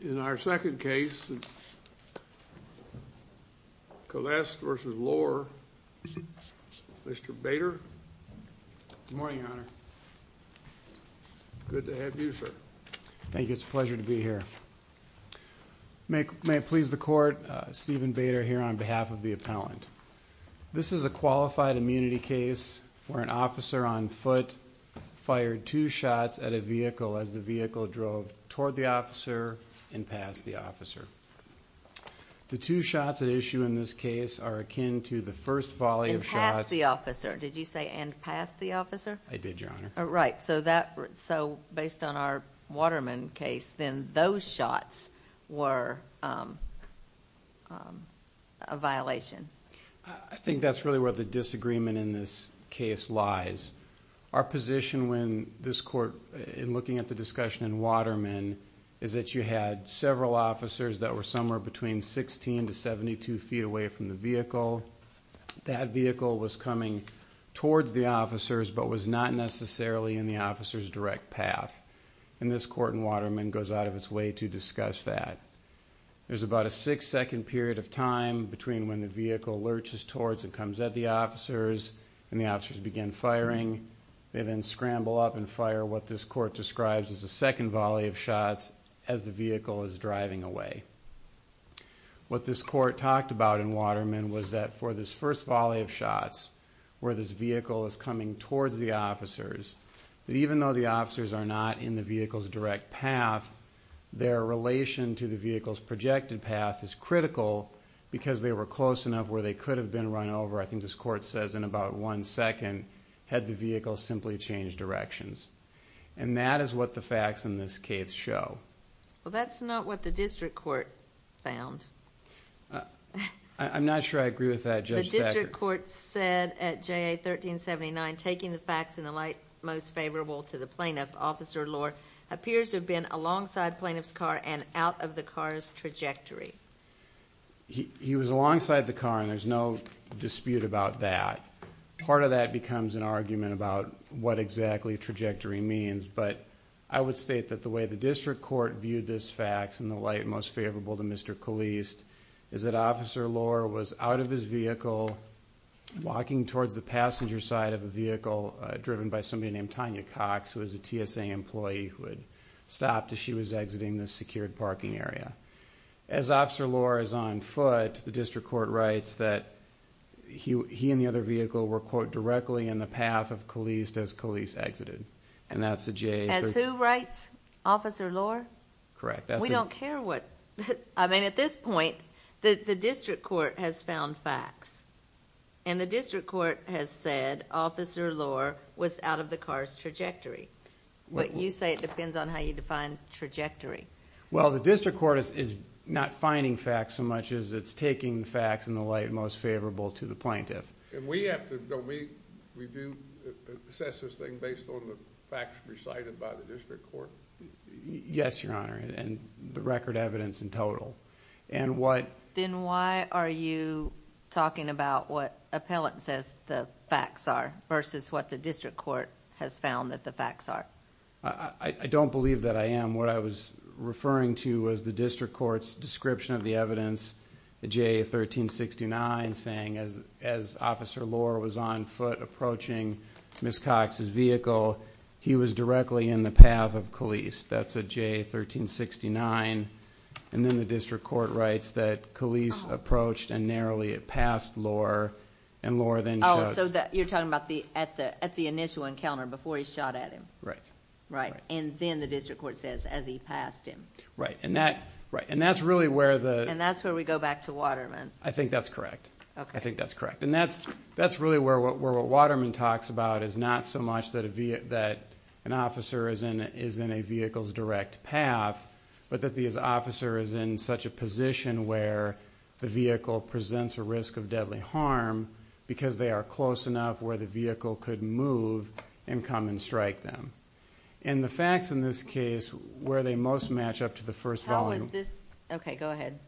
In our second case, Calliste v. Lor, Mr. Bader. Good morning, your honor. Good to have you, sir. Thank you. It's a pleasure to be here. May it please the court, Stephen Bader here on behalf of the appellant. This is a qualified immunity case where an officer on foot fired two shots at a vehicle as the vehicle drove toward the officer and past the officer. The two shots at issue in this case are akin to the first volley of shots. And past the officer. Did you say and past the officer? I did, your honor. Right. So based on our Waterman case, then those shots were a violation. I think that's really where the disagreement in this case lies. Our position when this court, in looking at the discussion in Waterman, is that you had several officers that were somewhere between 16 to 72 feet away from the vehicle. That vehicle was coming towards the officers but was not necessarily in the officer's direct path. And this court in Waterman goes out of its way to discuss that. There's about a six second period of time between when the vehicle lurches towards and comes at the officers and the officers begin firing. They then scramble up and fire what this court describes as a second volley of shots as the vehicle is driving away. What this court talked about in Waterman was that for this first volley of shots, where this vehicle is coming towards the officers, that even though the officers are not in the vehicle's direct path, their relation to the vehicle's projected path is critical because they were close enough where they could have been run over, I think this court says, in about one second had the vehicle simply changed directions. And that is what the facts in this case show. Well, that's not what the district court found. I'm not sure I agree with that, Judge Becker. The district court said at JA 1379, taking the facts in the light most favorable to the plaintiff, Officer Lohr appears to have been alongside plaintiff's car and out of the car's trajectory. He was alongside the car, and there's no dispute about that. Part of that becomes an argument about what exactly trajectory means, but I would state that the way the district court viewed this fact in the light most favorable to Mr. Caliste is that Officer Lohr was out of his vehicle, walking towards the passenger side of the vehicle, driven by somebody named Tanya Cox, who is a TSA employee, who had stopped as she was exiting the secured parking area. As Officer Lohr is on foot, the district court writes that he and the other vehicle were, quote, directly in the path of Caliste as Caliste exited. And that's the JA... As who writes? Officer Lohr? Correct. We don't care what... I mean, at this point, the district court has found facts. And the district court has said Officer Lohr was out of the car's trajectory. But you say it depends on how you define trajectory. Well, the district court is not finding facts so much as it's taking facts in the light most favorable to the plaintiff. And we have to... don't we? We do assess this thing based on the facts recited by the district court? Yes, Your Honor, and the record evidence in total. And what... Then why are you talking about what appellant says the facts are versus what the district court has found that the facts are? I don't believe that I am. What I was referring to was the district court's description of the evidence, the JA 1369, saying as Officer Lohr was on foot approaching Ms. Cox's vehicle, he was directly in the path of Caliste. That's a JA 1369. And then the district court writes that Caliste approached and narrowly passed Lohr, and Lohr then... Oh, so you're talking about at the initial encounter before he shot at him. Right. Right. And then the district court says as he passed him. Right. And that's really where the... And that's where we go back to Waterman. I think that's correct. Okay. I think that's correct. And that's really where what Waterman talks about is not so much that an officer is in a vehicle's direct path, but that the officer is in such a position where the vehicle presents a risk of deadly harm because they are close enough where the vehicle could move and come and strike them. And the facts in this case, where they most match up to the first volume... How is this? Okay, go ahead.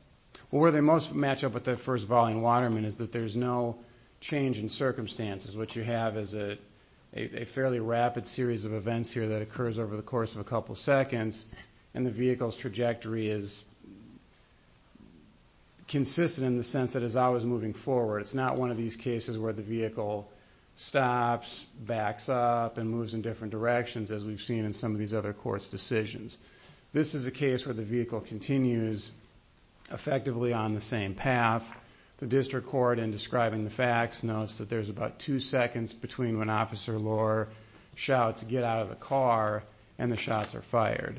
Well, where they most match up with that first volume in Waterman is that there's no change in circumstances. What you have is a fairly rapid series of events here that occurs over the course of a couple seconds, and the vehicle's trajectory is consistent in the sense that it's always moving forward. It's not one of these cases where the vehicle stops, backs up, and moves in different directions, as we've seen in some of these other courts' decisions. This is a case where the vehicle continues effectively on the same path. The district court, in describing the facts, notes that there's about two seconds between when Officer Lohr shouts, get out of the car, and the shots are fired.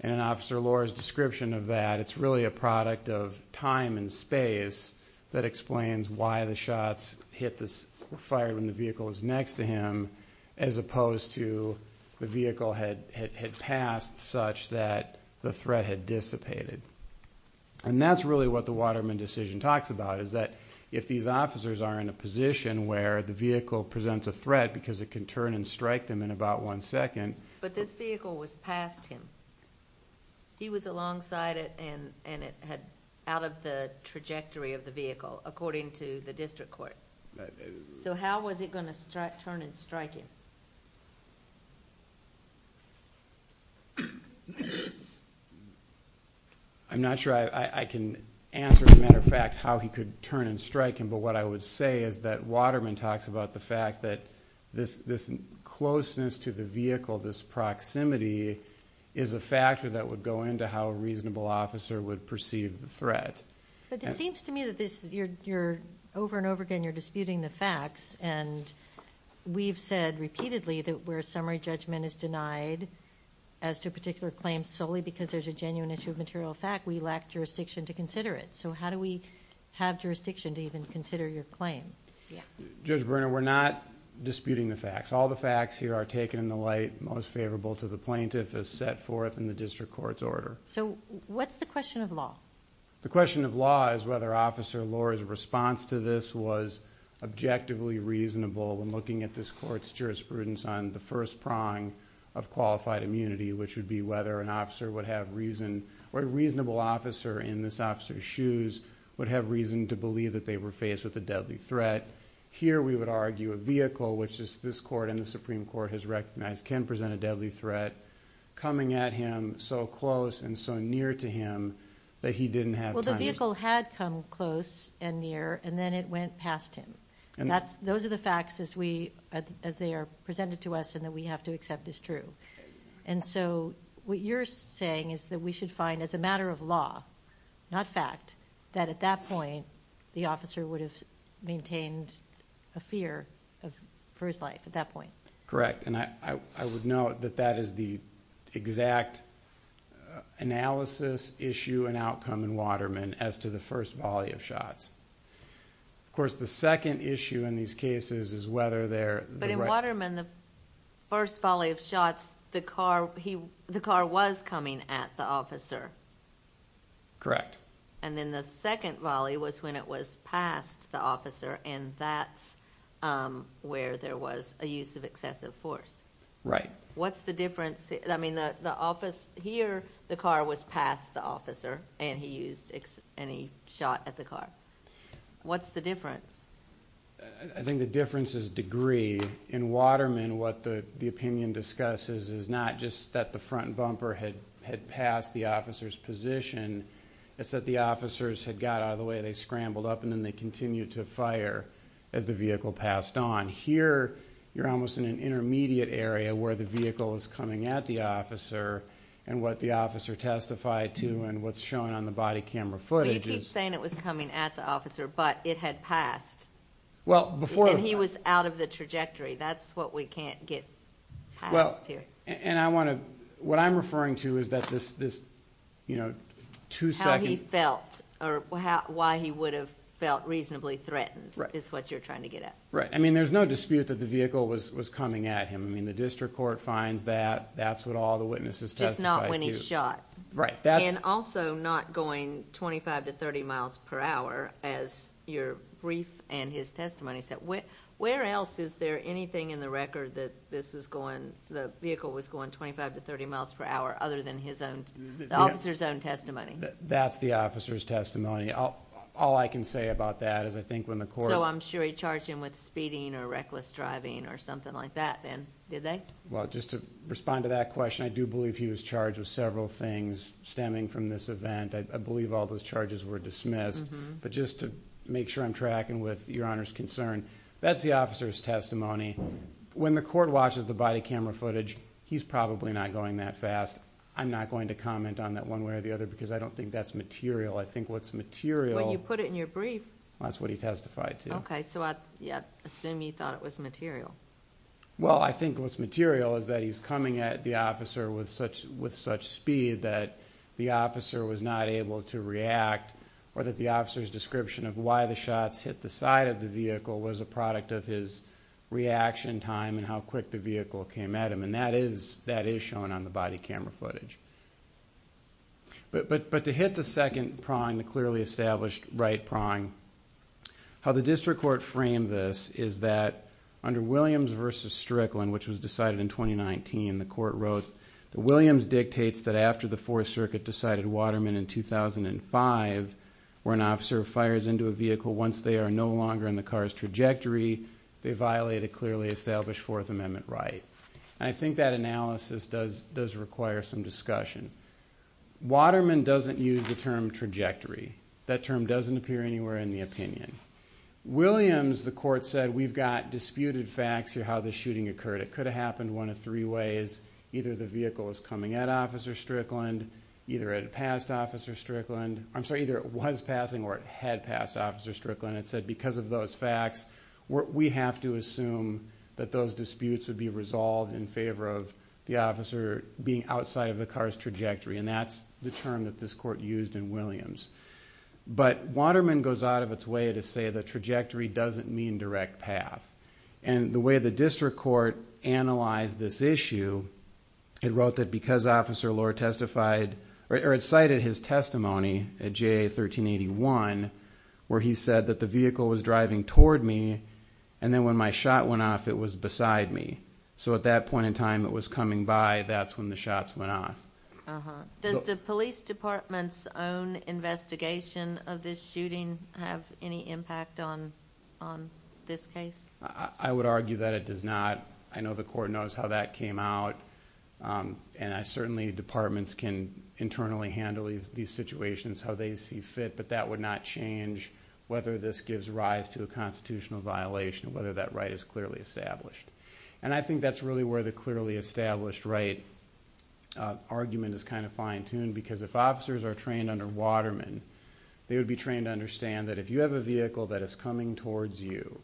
And in Officer Lohr's description of that, it's really a product of time and space that explains why the shots were fired when the vehicle was next to him, as opposed to the vehicle had passed such that the threat had dissipated. And that's really what the Waterman decision talks about, is that if these officers are in a position where the vehicle presents a threat because it can turn and strike them in about one second... But this vehicle was past him. He was alongside it, and it had out of the trajectory of the vehicle, according to the district court. So how was it going to turn and strike him? I'm not sure I can answer, as a matter of fact, how he could turn and strike him. But what I would say is that Waterman talks about the fact that this closeness to the vehicle, this proximity, is a factor that would go into how a reasonable officer would perceive the threat. But it seems to me that over and over again you're disputing the facts. And we've said repeatedly that where a summary judgment is denied as to a particular claim solely because there's a genuine issue of material fact, we lack jurisdiction to consider it. So how do we have jurisdiction to even consider your claim? Judge Berner, we're not disputing the facts. All the facts here are taken in the light most favorable to the plaintiff as set forth in the district court's order. So what's the question of law? The question of law is whether Officer Lohr's response to this was objectively reasonable when looking at this court's jurisprudence on the first prong of qualified immunity, which would be whether an officer would have reason... or a reasonable officer in this officer's shoes would have reason to believe that they were faced with a deadly threat. But here we would argue a vehicle, which this court and the Supreme Court has recognized can present a deadly threat, coming at him so close and so near to him that he didn't have time... Well, the vehicle had come close and near, and then it went past him. And those are the facts as they are presented to us and that we have to accept as true. And so what you're saying is that we should find, as a matter of law, not fact, that at that point the officer would have maintained a fear for his life at that point? Correct. And I would note that that is the exact analysis issue and outcome in Waterman as to the first volley of shots. Of course, the second issue in these cases is whether they're... But in Waterman, the first volley of shots, the car was coming at the officer. Correct. And then the second volley was when it was past the officer, and that's where there was a use of excessive force. Right. What's the difference? I mean, here the car was past the officer, and he shot at the car. What's the difference? I think the difference is degree. In Waterman, what the opinion discusses is not just that the front bumper had passed the officer's position. It's that the officers had got out of the way, they scrambled up, and then they continued to fire as the vehicle passed on. Here, you're almost in an intermediate area where the vehicle is coming at the officer, and what the officer testified to and what's shown on the body camera footage is... But you keep saying it was coming at the officer, but it had passed. Well, before... And he was out of the trajectory. That's what we can't get past here. What I'm referring to is that this two-second... How he felt or why he would have felt reasonably threatened is what you're trying to get at. Right. I mean, there's no dispute that the vehicle was coming at him. I mean, the district court finds that. That's what all the witnesses testified to. Just not when he shot. Right. And also not going 25 to 30 miles per hour, as your brief and his testimony said. Where else is there anything in the record that the vehicle was going 25 to 30 miles per hour other than the officer's own testimony? That's the officer's testimony. All I can say about that is I think when the court... So I'm sure he charged him with speeding or reckless driving or something like that then, did they? Well, just to respond to that question, I do believe he was charged with several things stemming from this event. I believe all those charges were dismissed. But just to make sure I'm tracking with your Honor's concern, that's the officer's testimony. When the court watches the body camera footage, he's probably not going that fast. I'm not going to comment on that one way or the other because I don't think that's material. I think what's material... Well, you put it in your brief. That's what he testified to. Okay. So I assume you thought it was material. Well, I think what's material is that he's coming at the officer with such speed that the officer was not able to react or that the officer's description of why the shots hit the side of the vehicle was a product of his reaction time and how quick the vehicle came at him. And that is shown on the body camera footage. But to hit the second prong, the clearly established right prong, how the district court framed this is that under Williams v. Strickland, which was dictates that after the Fourth Circuit decided Waterman in 2005, where an officer fires into a vehicle once they are no longer in the car's trajectory, they violate a clearly established Fourth Amendment right. And I think that analysis does require some discussion. Waterman doesn't use the term trajectory. That term doesn't appear anywhere in the opinion. Williams, the court said, we've got disputed facts here how this shooting occurred. It could have happened one of three ways. Either the vehicle was coming at Officer Strickland, either it had passed Officer Strickland. I'm sorry, either it was passing or it had passed Officer Strickland. It said because of those facts, we have to assume that those disputes would be resolved in favor of the officer being outside of the car's trajectory. And that's the term that this court used in Williams. But Waterman goes out of its way to say the trajectory doesn't mean direct path. And the way the district court analyzed this issue, it wrote that because Officer Lohr testified, or it cited his testimony at JA 1381, where he said that the vehicle was driving toward me, and then when my shot went off, it was beside me. So at that point in time, it was coming by. That's when the shots went off. Does the police department's own investigation of this shooting have any impact on this case? I would argue that it does not. I know the court knows how that came out. And certainly, departments can internally handle these situations, how they see fit. But that would not change whether this gives rise to a constitutional violation, whether that right is clearly established. And I think that's really where the clearly established right argument is kind of fine-tuned. Because if officers are trained under Waterman, they would be trained to believe that if a vehicle is coming towards you,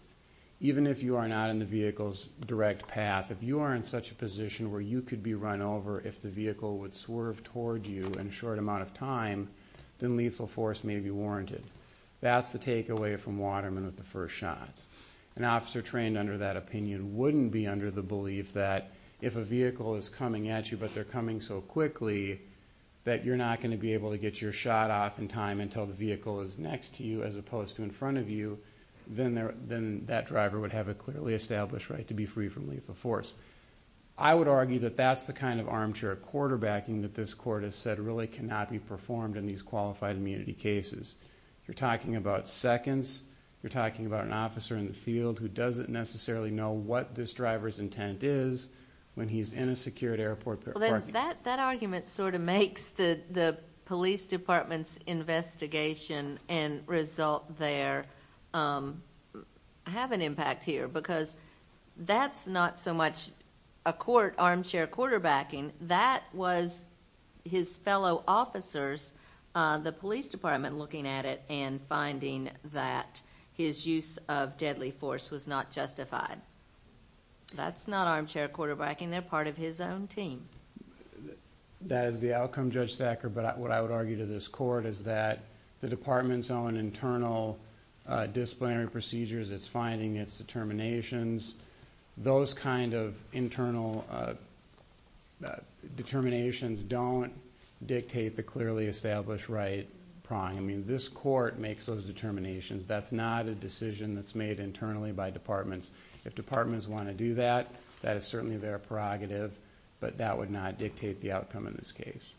even if you are not in the vehicle's direct path, if you are in such a position where you could be run over if the vehicle would swerve toward you in a short amount of time, then lethal force may be warranted. That's the takeaway from Waterman with the first shots. An officer trained under that opinion wouldn't be under the belief that if a vehicle is coming at you, but they're coming so quickly, that you're not going to be able to get your shot off in time until the vehicle is next to you as quickly, then that driver would have a clearly established right to be free from lethal force. I would argue that that's the kind of armchair quarterbacking that this court has said really cannot be performed in these qualified immunity cases. You're talking about seconds. You're talking about an officer in the field who doesn't necessarily know what this driver's intent is when he's in a secured airport parking lot. That argument sort of makes the police department's investigation and result there have an impact here because that's not so much a court armchair quarterbacking. That was his fellow officers, the police department looking at it and finding that his use of deadly force was not justified. That's not armchair quarterbacking. They're part of his own team. That is the outcome, Judge Thacker, but what I would argue to this court is that the department's own internal disciplinary procedures, its finding, its determinations, those kind of internal determinations don't dictate the clearly established right prong. This court makes those determinations. That's not a decision that's made internally by departments. If departments want to do that, that is certainly their prerogative, but that would not dictate the outcome in this case.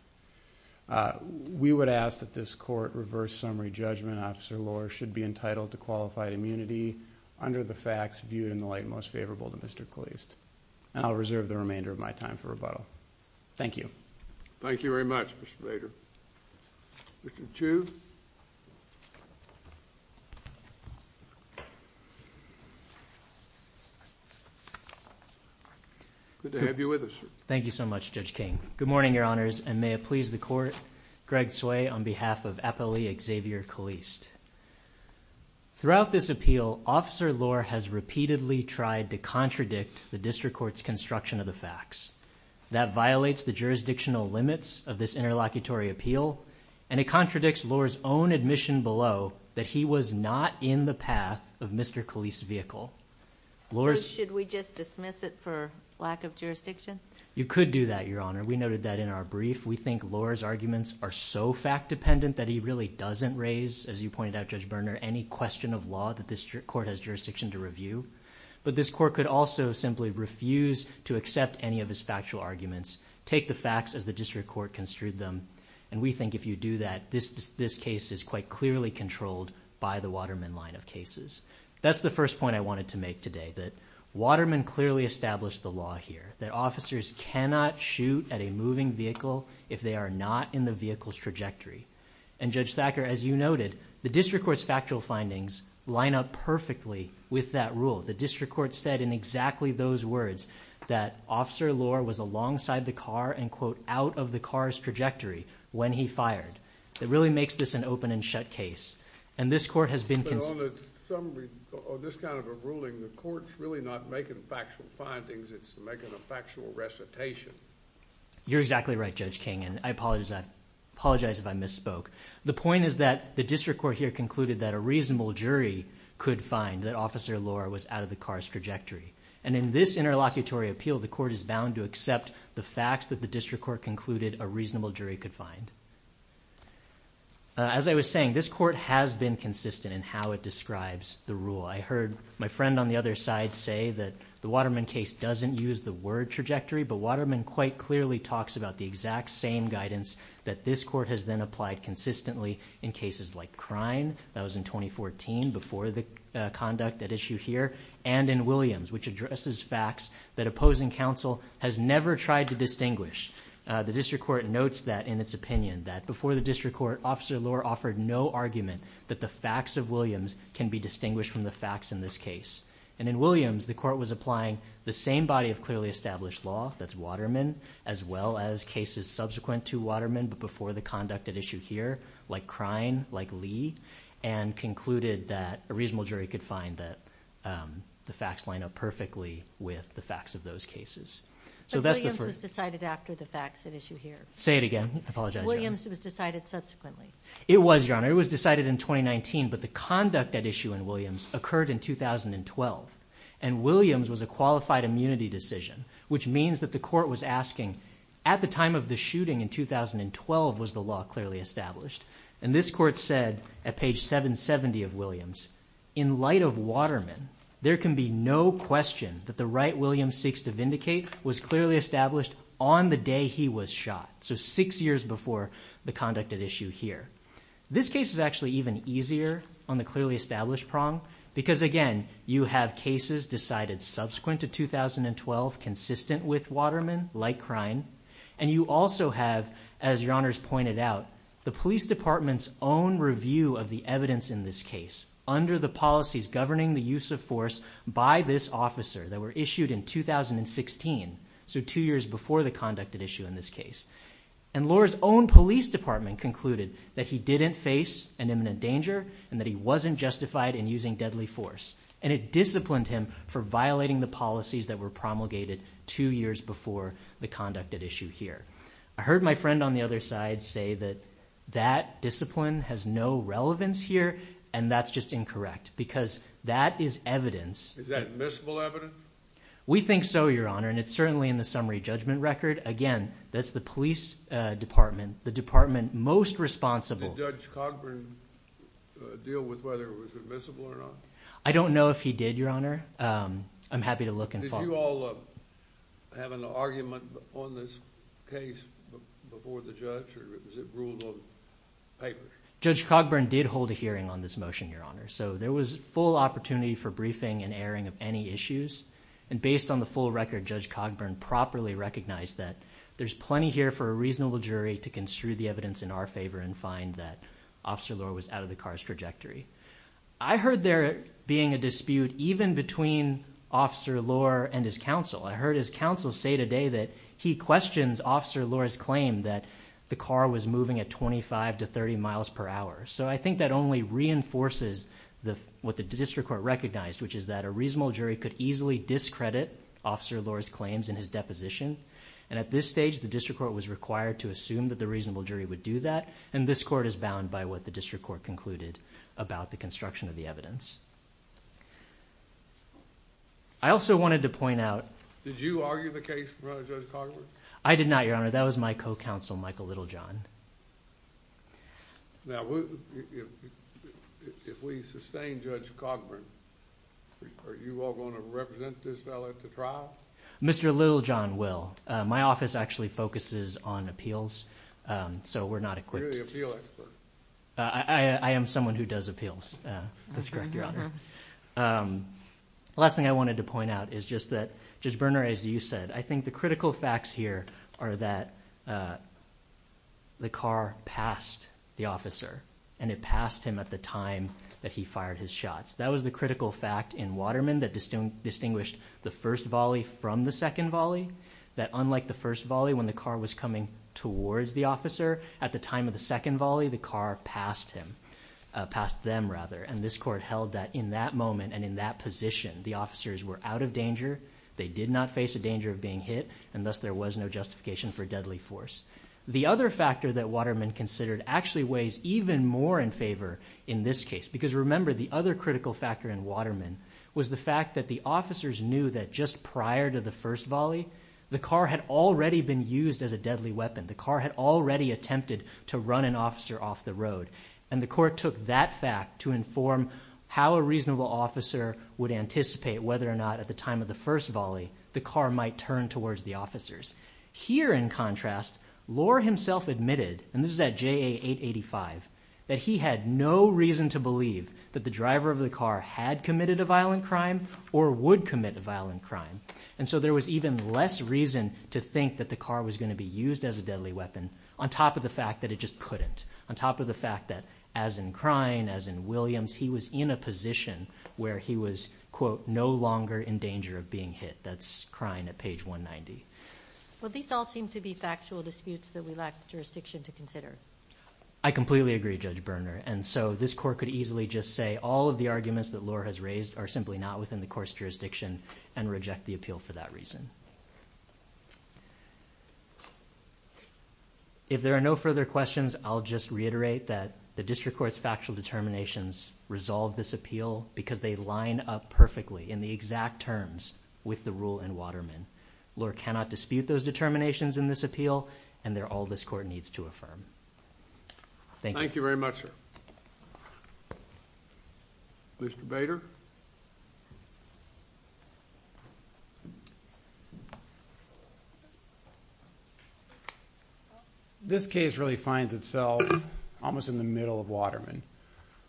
We would ask that this court reverse summary judgment, Officer Lohr, should be entitled to qualified immunity under the facts viewed in the light most favorable to Mr. Kleist. I'll reserve the remainder of my time for rebuttal. Thank you. Thank you very much, Mr. Bader. Mr. Chu. Good to have you with us. Thank you so much, Judge King. Good morning, Your Honors, and may it please the court. Greg Tsui on behalf of Appellee Xavier Kleist. Throughout this appeal, Officer Lohr has repeatedly tried to contradict the district court's construction of the facts. That violates the jurisdictional limits of this interlocutory appeal, and it contradicts Lohr's own admission below that he was not in the path of Mr. Kleist's vehicle. Should we just dismiss it for lack of jurisdiction? You could do that, Your Honor. We noted that in our brief. We think Lohr's arguments are so fact dependent that he really doesn't raise, as you pointed out, Judge Berner, any question of law that this court has jurisdiction to review, but this court could also simply refuse to accept any of his factual arguments, take the facts as the district court construed them, and we think if you do that, this case is quite clearly controlled by the Waterman line of cases. That's the first point I wanted to make today, that Waterman clearly established the law here, that officers cannot shoot at a moving vehicle if they are not in the vehicle's trajectory, and Judge Thacker, as you noted, the district court's factual findings line up perfectly with that rule. The district court said in exactly those words that Officer Lohr was alongside the car and, quote, out of the car's trajectory when he fired. It really makes this an open and shut case, and this court has been... On this kind of a ruling, the court's really not making factual findings. It's making a factual recitation. You're exactly right, Judge King, and I apologize if I misspoke. The point is that the district court here concluded that a reasonable jury could find that Officer Lohr was out of the car's trajectory, and in this interlocutory appeal, the court is bound to accept the facts that the district court concluded a reasonable jury could find. As I was saying, this court has been consistent in how it describes the rule. I heard my friend on the other side say that the Waterman case doesn't use the word trajectory, but Waterman quite clearly talks about the exact same guidance that this court has then applied consistently in cases like Crine, that was in 2014 before the conduct at issue here, and in Williams, which addresses facts that opposing counsel has never tried to distinguish, the district court notes that in its opinion, that before the district court, Officer Lohr offered no argument that the facts of Williams can be distinguished from the facts in this case. In Williams, the court was applying the same body of clearly established law, that's Waterman, as well as cases subsequent to Waterman, but before the conduct at issue here, like Crine, like Lee, and concluded that a reasonable jury could find that the facts line up perfectly with the facts of those cases. But Williams was decided after the facts at issue here. Say it again. I apologize. Williams was decided subsequently. It was, Your Honor. It was decided in 2019, but the conduct at issue in Williams occurred in 2012, and Williams was a qualified immunity decision, which means that the court was asking, at the time of the shooting in 2012, was the law clearly established? And this court said, at page 770 of Williams, in light of Waterman, there can be no question that the right Williams seeks to vindicate was clearly established on the day he was shot, so six years before the conduct at issue here. This case is actually even easier on the clearly established prong, because, again, you have cases decided subsequent to 2012, consistent with Waterman, like Crine, and you also have, as Your Honors pointed out, the police department's own review of the evidence in this case, under the policies governing the use of force by this officer that were issued in 2016, so two years before the conduct at issue in this case. And Lohr's own police department concluded that he didn't face an imminent danger, and that he wasn't justified in using deadly force, and it disciplined him for violating the policies that were promulgated two years before the conduct at issue here. I heard my friend on the other side say that that discipline has no relevance here, and that's just incorrect, because that is evidence... Is that admissible evidence? We think so, Your Honor, and it's certainly in the summary judgment record. Again, that's the police department, the department most responsible... Did Judge Cogburn deal with whether it was admissible or not? I don't know if he did, Your Honor. I'm happy to look and find... Did you all have an argument on this case before the judge, or was it ruled on paper? Judge Cogburn did hold a hearing on this motion, Your Honor, so there was full opportunity for briefing and airing of any issues, and based on the full record, Judge Cogburn properly recognized that there's plenty here for a reasonable jury to construe the evidence in our favor and find that Officer Lohr was out of the car's trajectory. I heard there being a dispute even between Officer Lohr and his counsel. I heard his counsel say today that he questions Officer Lohr's claim that the car was moving at twenty-five to thirty miles per hour. I think that only reinforces what the district court recognized, which is that a reasonable jury could easily discredit Officer Lohr's claims in his deposition. At this stage, the district court was required to assume that the reasonable jury would do that, and this court is bound by what the district court concluded about the construction of the evidence. I also wanted to point out... Did you argue the case in front of Judge Cogburn? I did not, Your Honor. That was my co-counsel, Michael Littlejohn. Now, if we sustain Judge Cogburn, are you all going to represent this fellow at the trial? Mr. Littlejohn will. My office actually focuses on appeals, so we're not equipped... You're the appeal expert. I am someone who does appeals. That's correct, Your Honor. The last thing I wanted to point out is just that, Judge Berner, as you said, I think the critical facts here are that the car passed the officer, and it passed him at the time that he fired his shots. That was the critical fact in Waterman that distinguished the first volley from the second volley, that unlike the first volley when the car was coming towards the officer, at the time of the second volley, the car passed him, passed them rather, and this court held that in that moment and in that position, the officers were out of danger. They did not face a danger of being hit, and thus there was no justification for deadly force. The other factor that Waterman considered actually weighs even more in favor in this case because, remember, the other critical factor in Waterman was the fact that the officers knew that just prior to the first volley, the car had already been used as a deadly weapon. The car had already attempted to run an officer off the road, and the court took that fact to inform how a reasonable officer would anticipate whether or not at the time of the first volley the car might turn towards the officers. Here, in contrast, Lohr himself admitted, and this is at JA 885, that he had no reason to believe that the driver of the car had committed a violent crime or would commit a violent crime. And so there was even less reason to think that the car was going to be used as a deadly weapon on top of the fact that it just couldn't, on top of the fact that, as in Kryne, as in Williams, he was in a position where he was, quote, no longer in danger of being hit. That's Kryne at page 190. Well, these all seem to be factual disputes that we lack jurisdiction to consider. I completely agree, Judge Berner. And so this court could easily just say all of the arguments that Lohr has raised are simply not within the court's jurisdiction and reject the appeal for that reason. If there are no further questions, I'll just reiterate that the District Court's factual determinations resolve this appeal because they line up perfectly in the exact terms with the rule in Waterman. Lohr cannot dispute those determinations in this appeal, and they're all this court needs to affirm. Thank you. Thank you very much, sir. Mr. Bader? Mr. Bader? This case really finds itself almost in the middle of Waterman.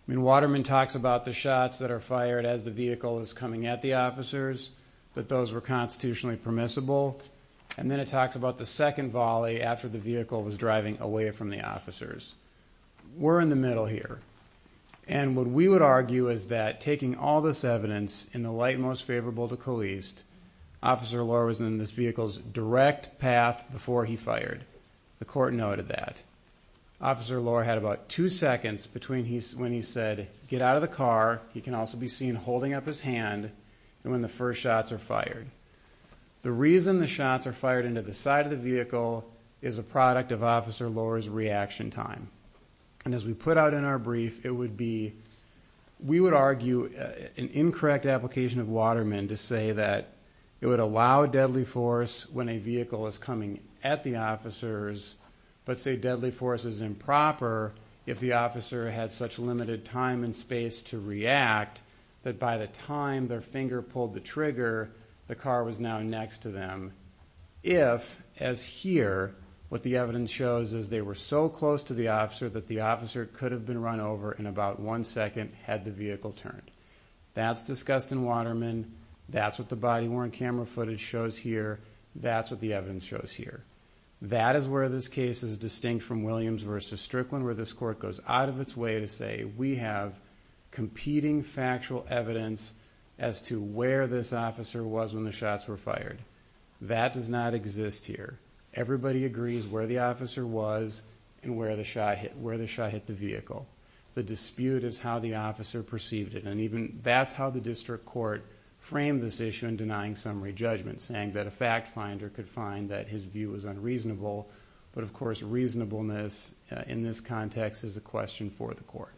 I mean, Waterman talks about the shots that are fired as the vehicle is coming at the officers, that those were constitutionally permissible, and then it talks about the second volley after the vehicle was driving away from the officers. We're in the middle here. And what we would argue is that taking all this evidence in the light most favorable to Caliste, Officer Lohr was in this vehicle's direct path before he fired. The court noted that. Officer Lohr had about two seconds between when he said, get out of the car, he can also be seen holding up his hand, and when the first shots are fired. The reason the shots are fired into the side of the vehicle is a product of Officer Lohr's reaction time. And as we put out in our brief, it would be, we would argue an incorrect application of Waterman to say that it would allow deadly force when a vehicle is coming at the officers, but say deadly force is improper if the officer had such limited time and space to react that by the time their finger pulled the trigger, the car was now next to them. If as here, what the evidence shows is they were so close to the officer that the officer could have been run over in about one second had the vehicle turned. That's discussed in Waterman. That's what the body worn camera footage shows here. That's what the evidence shows here. That is where this case is distinct from Williams versus Strickland, where this court goes out of its way to say, we have competing factual evidence as to where this officer was when the shots were fired. That does not exist here. Everybody agrees where the officer was and where the shot hit, where the shot hit the vehicle. The dispute is how the officer perceived it. And even that's how the district court framed this issue in denying summary judgment, saying that a fact finder could find that his view was unreasonable, but of course reasonableness in this context is a question for the court.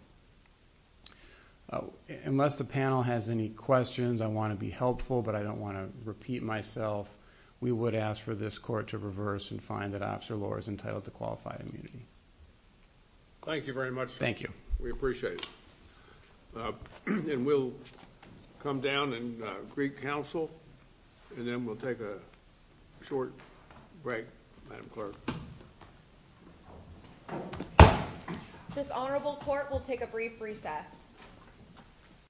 Unless the panel has any questions, I want to be helpful, but I don't want to repeat myself. We would ask for this court to reverse and find that officer law is entitled to qualify immunity. Thank you very much. Thank you. We appreciate it. And we'll come down and Greek council and then we'll take a short break. Madam clerk. This honorable court will take a brief recess.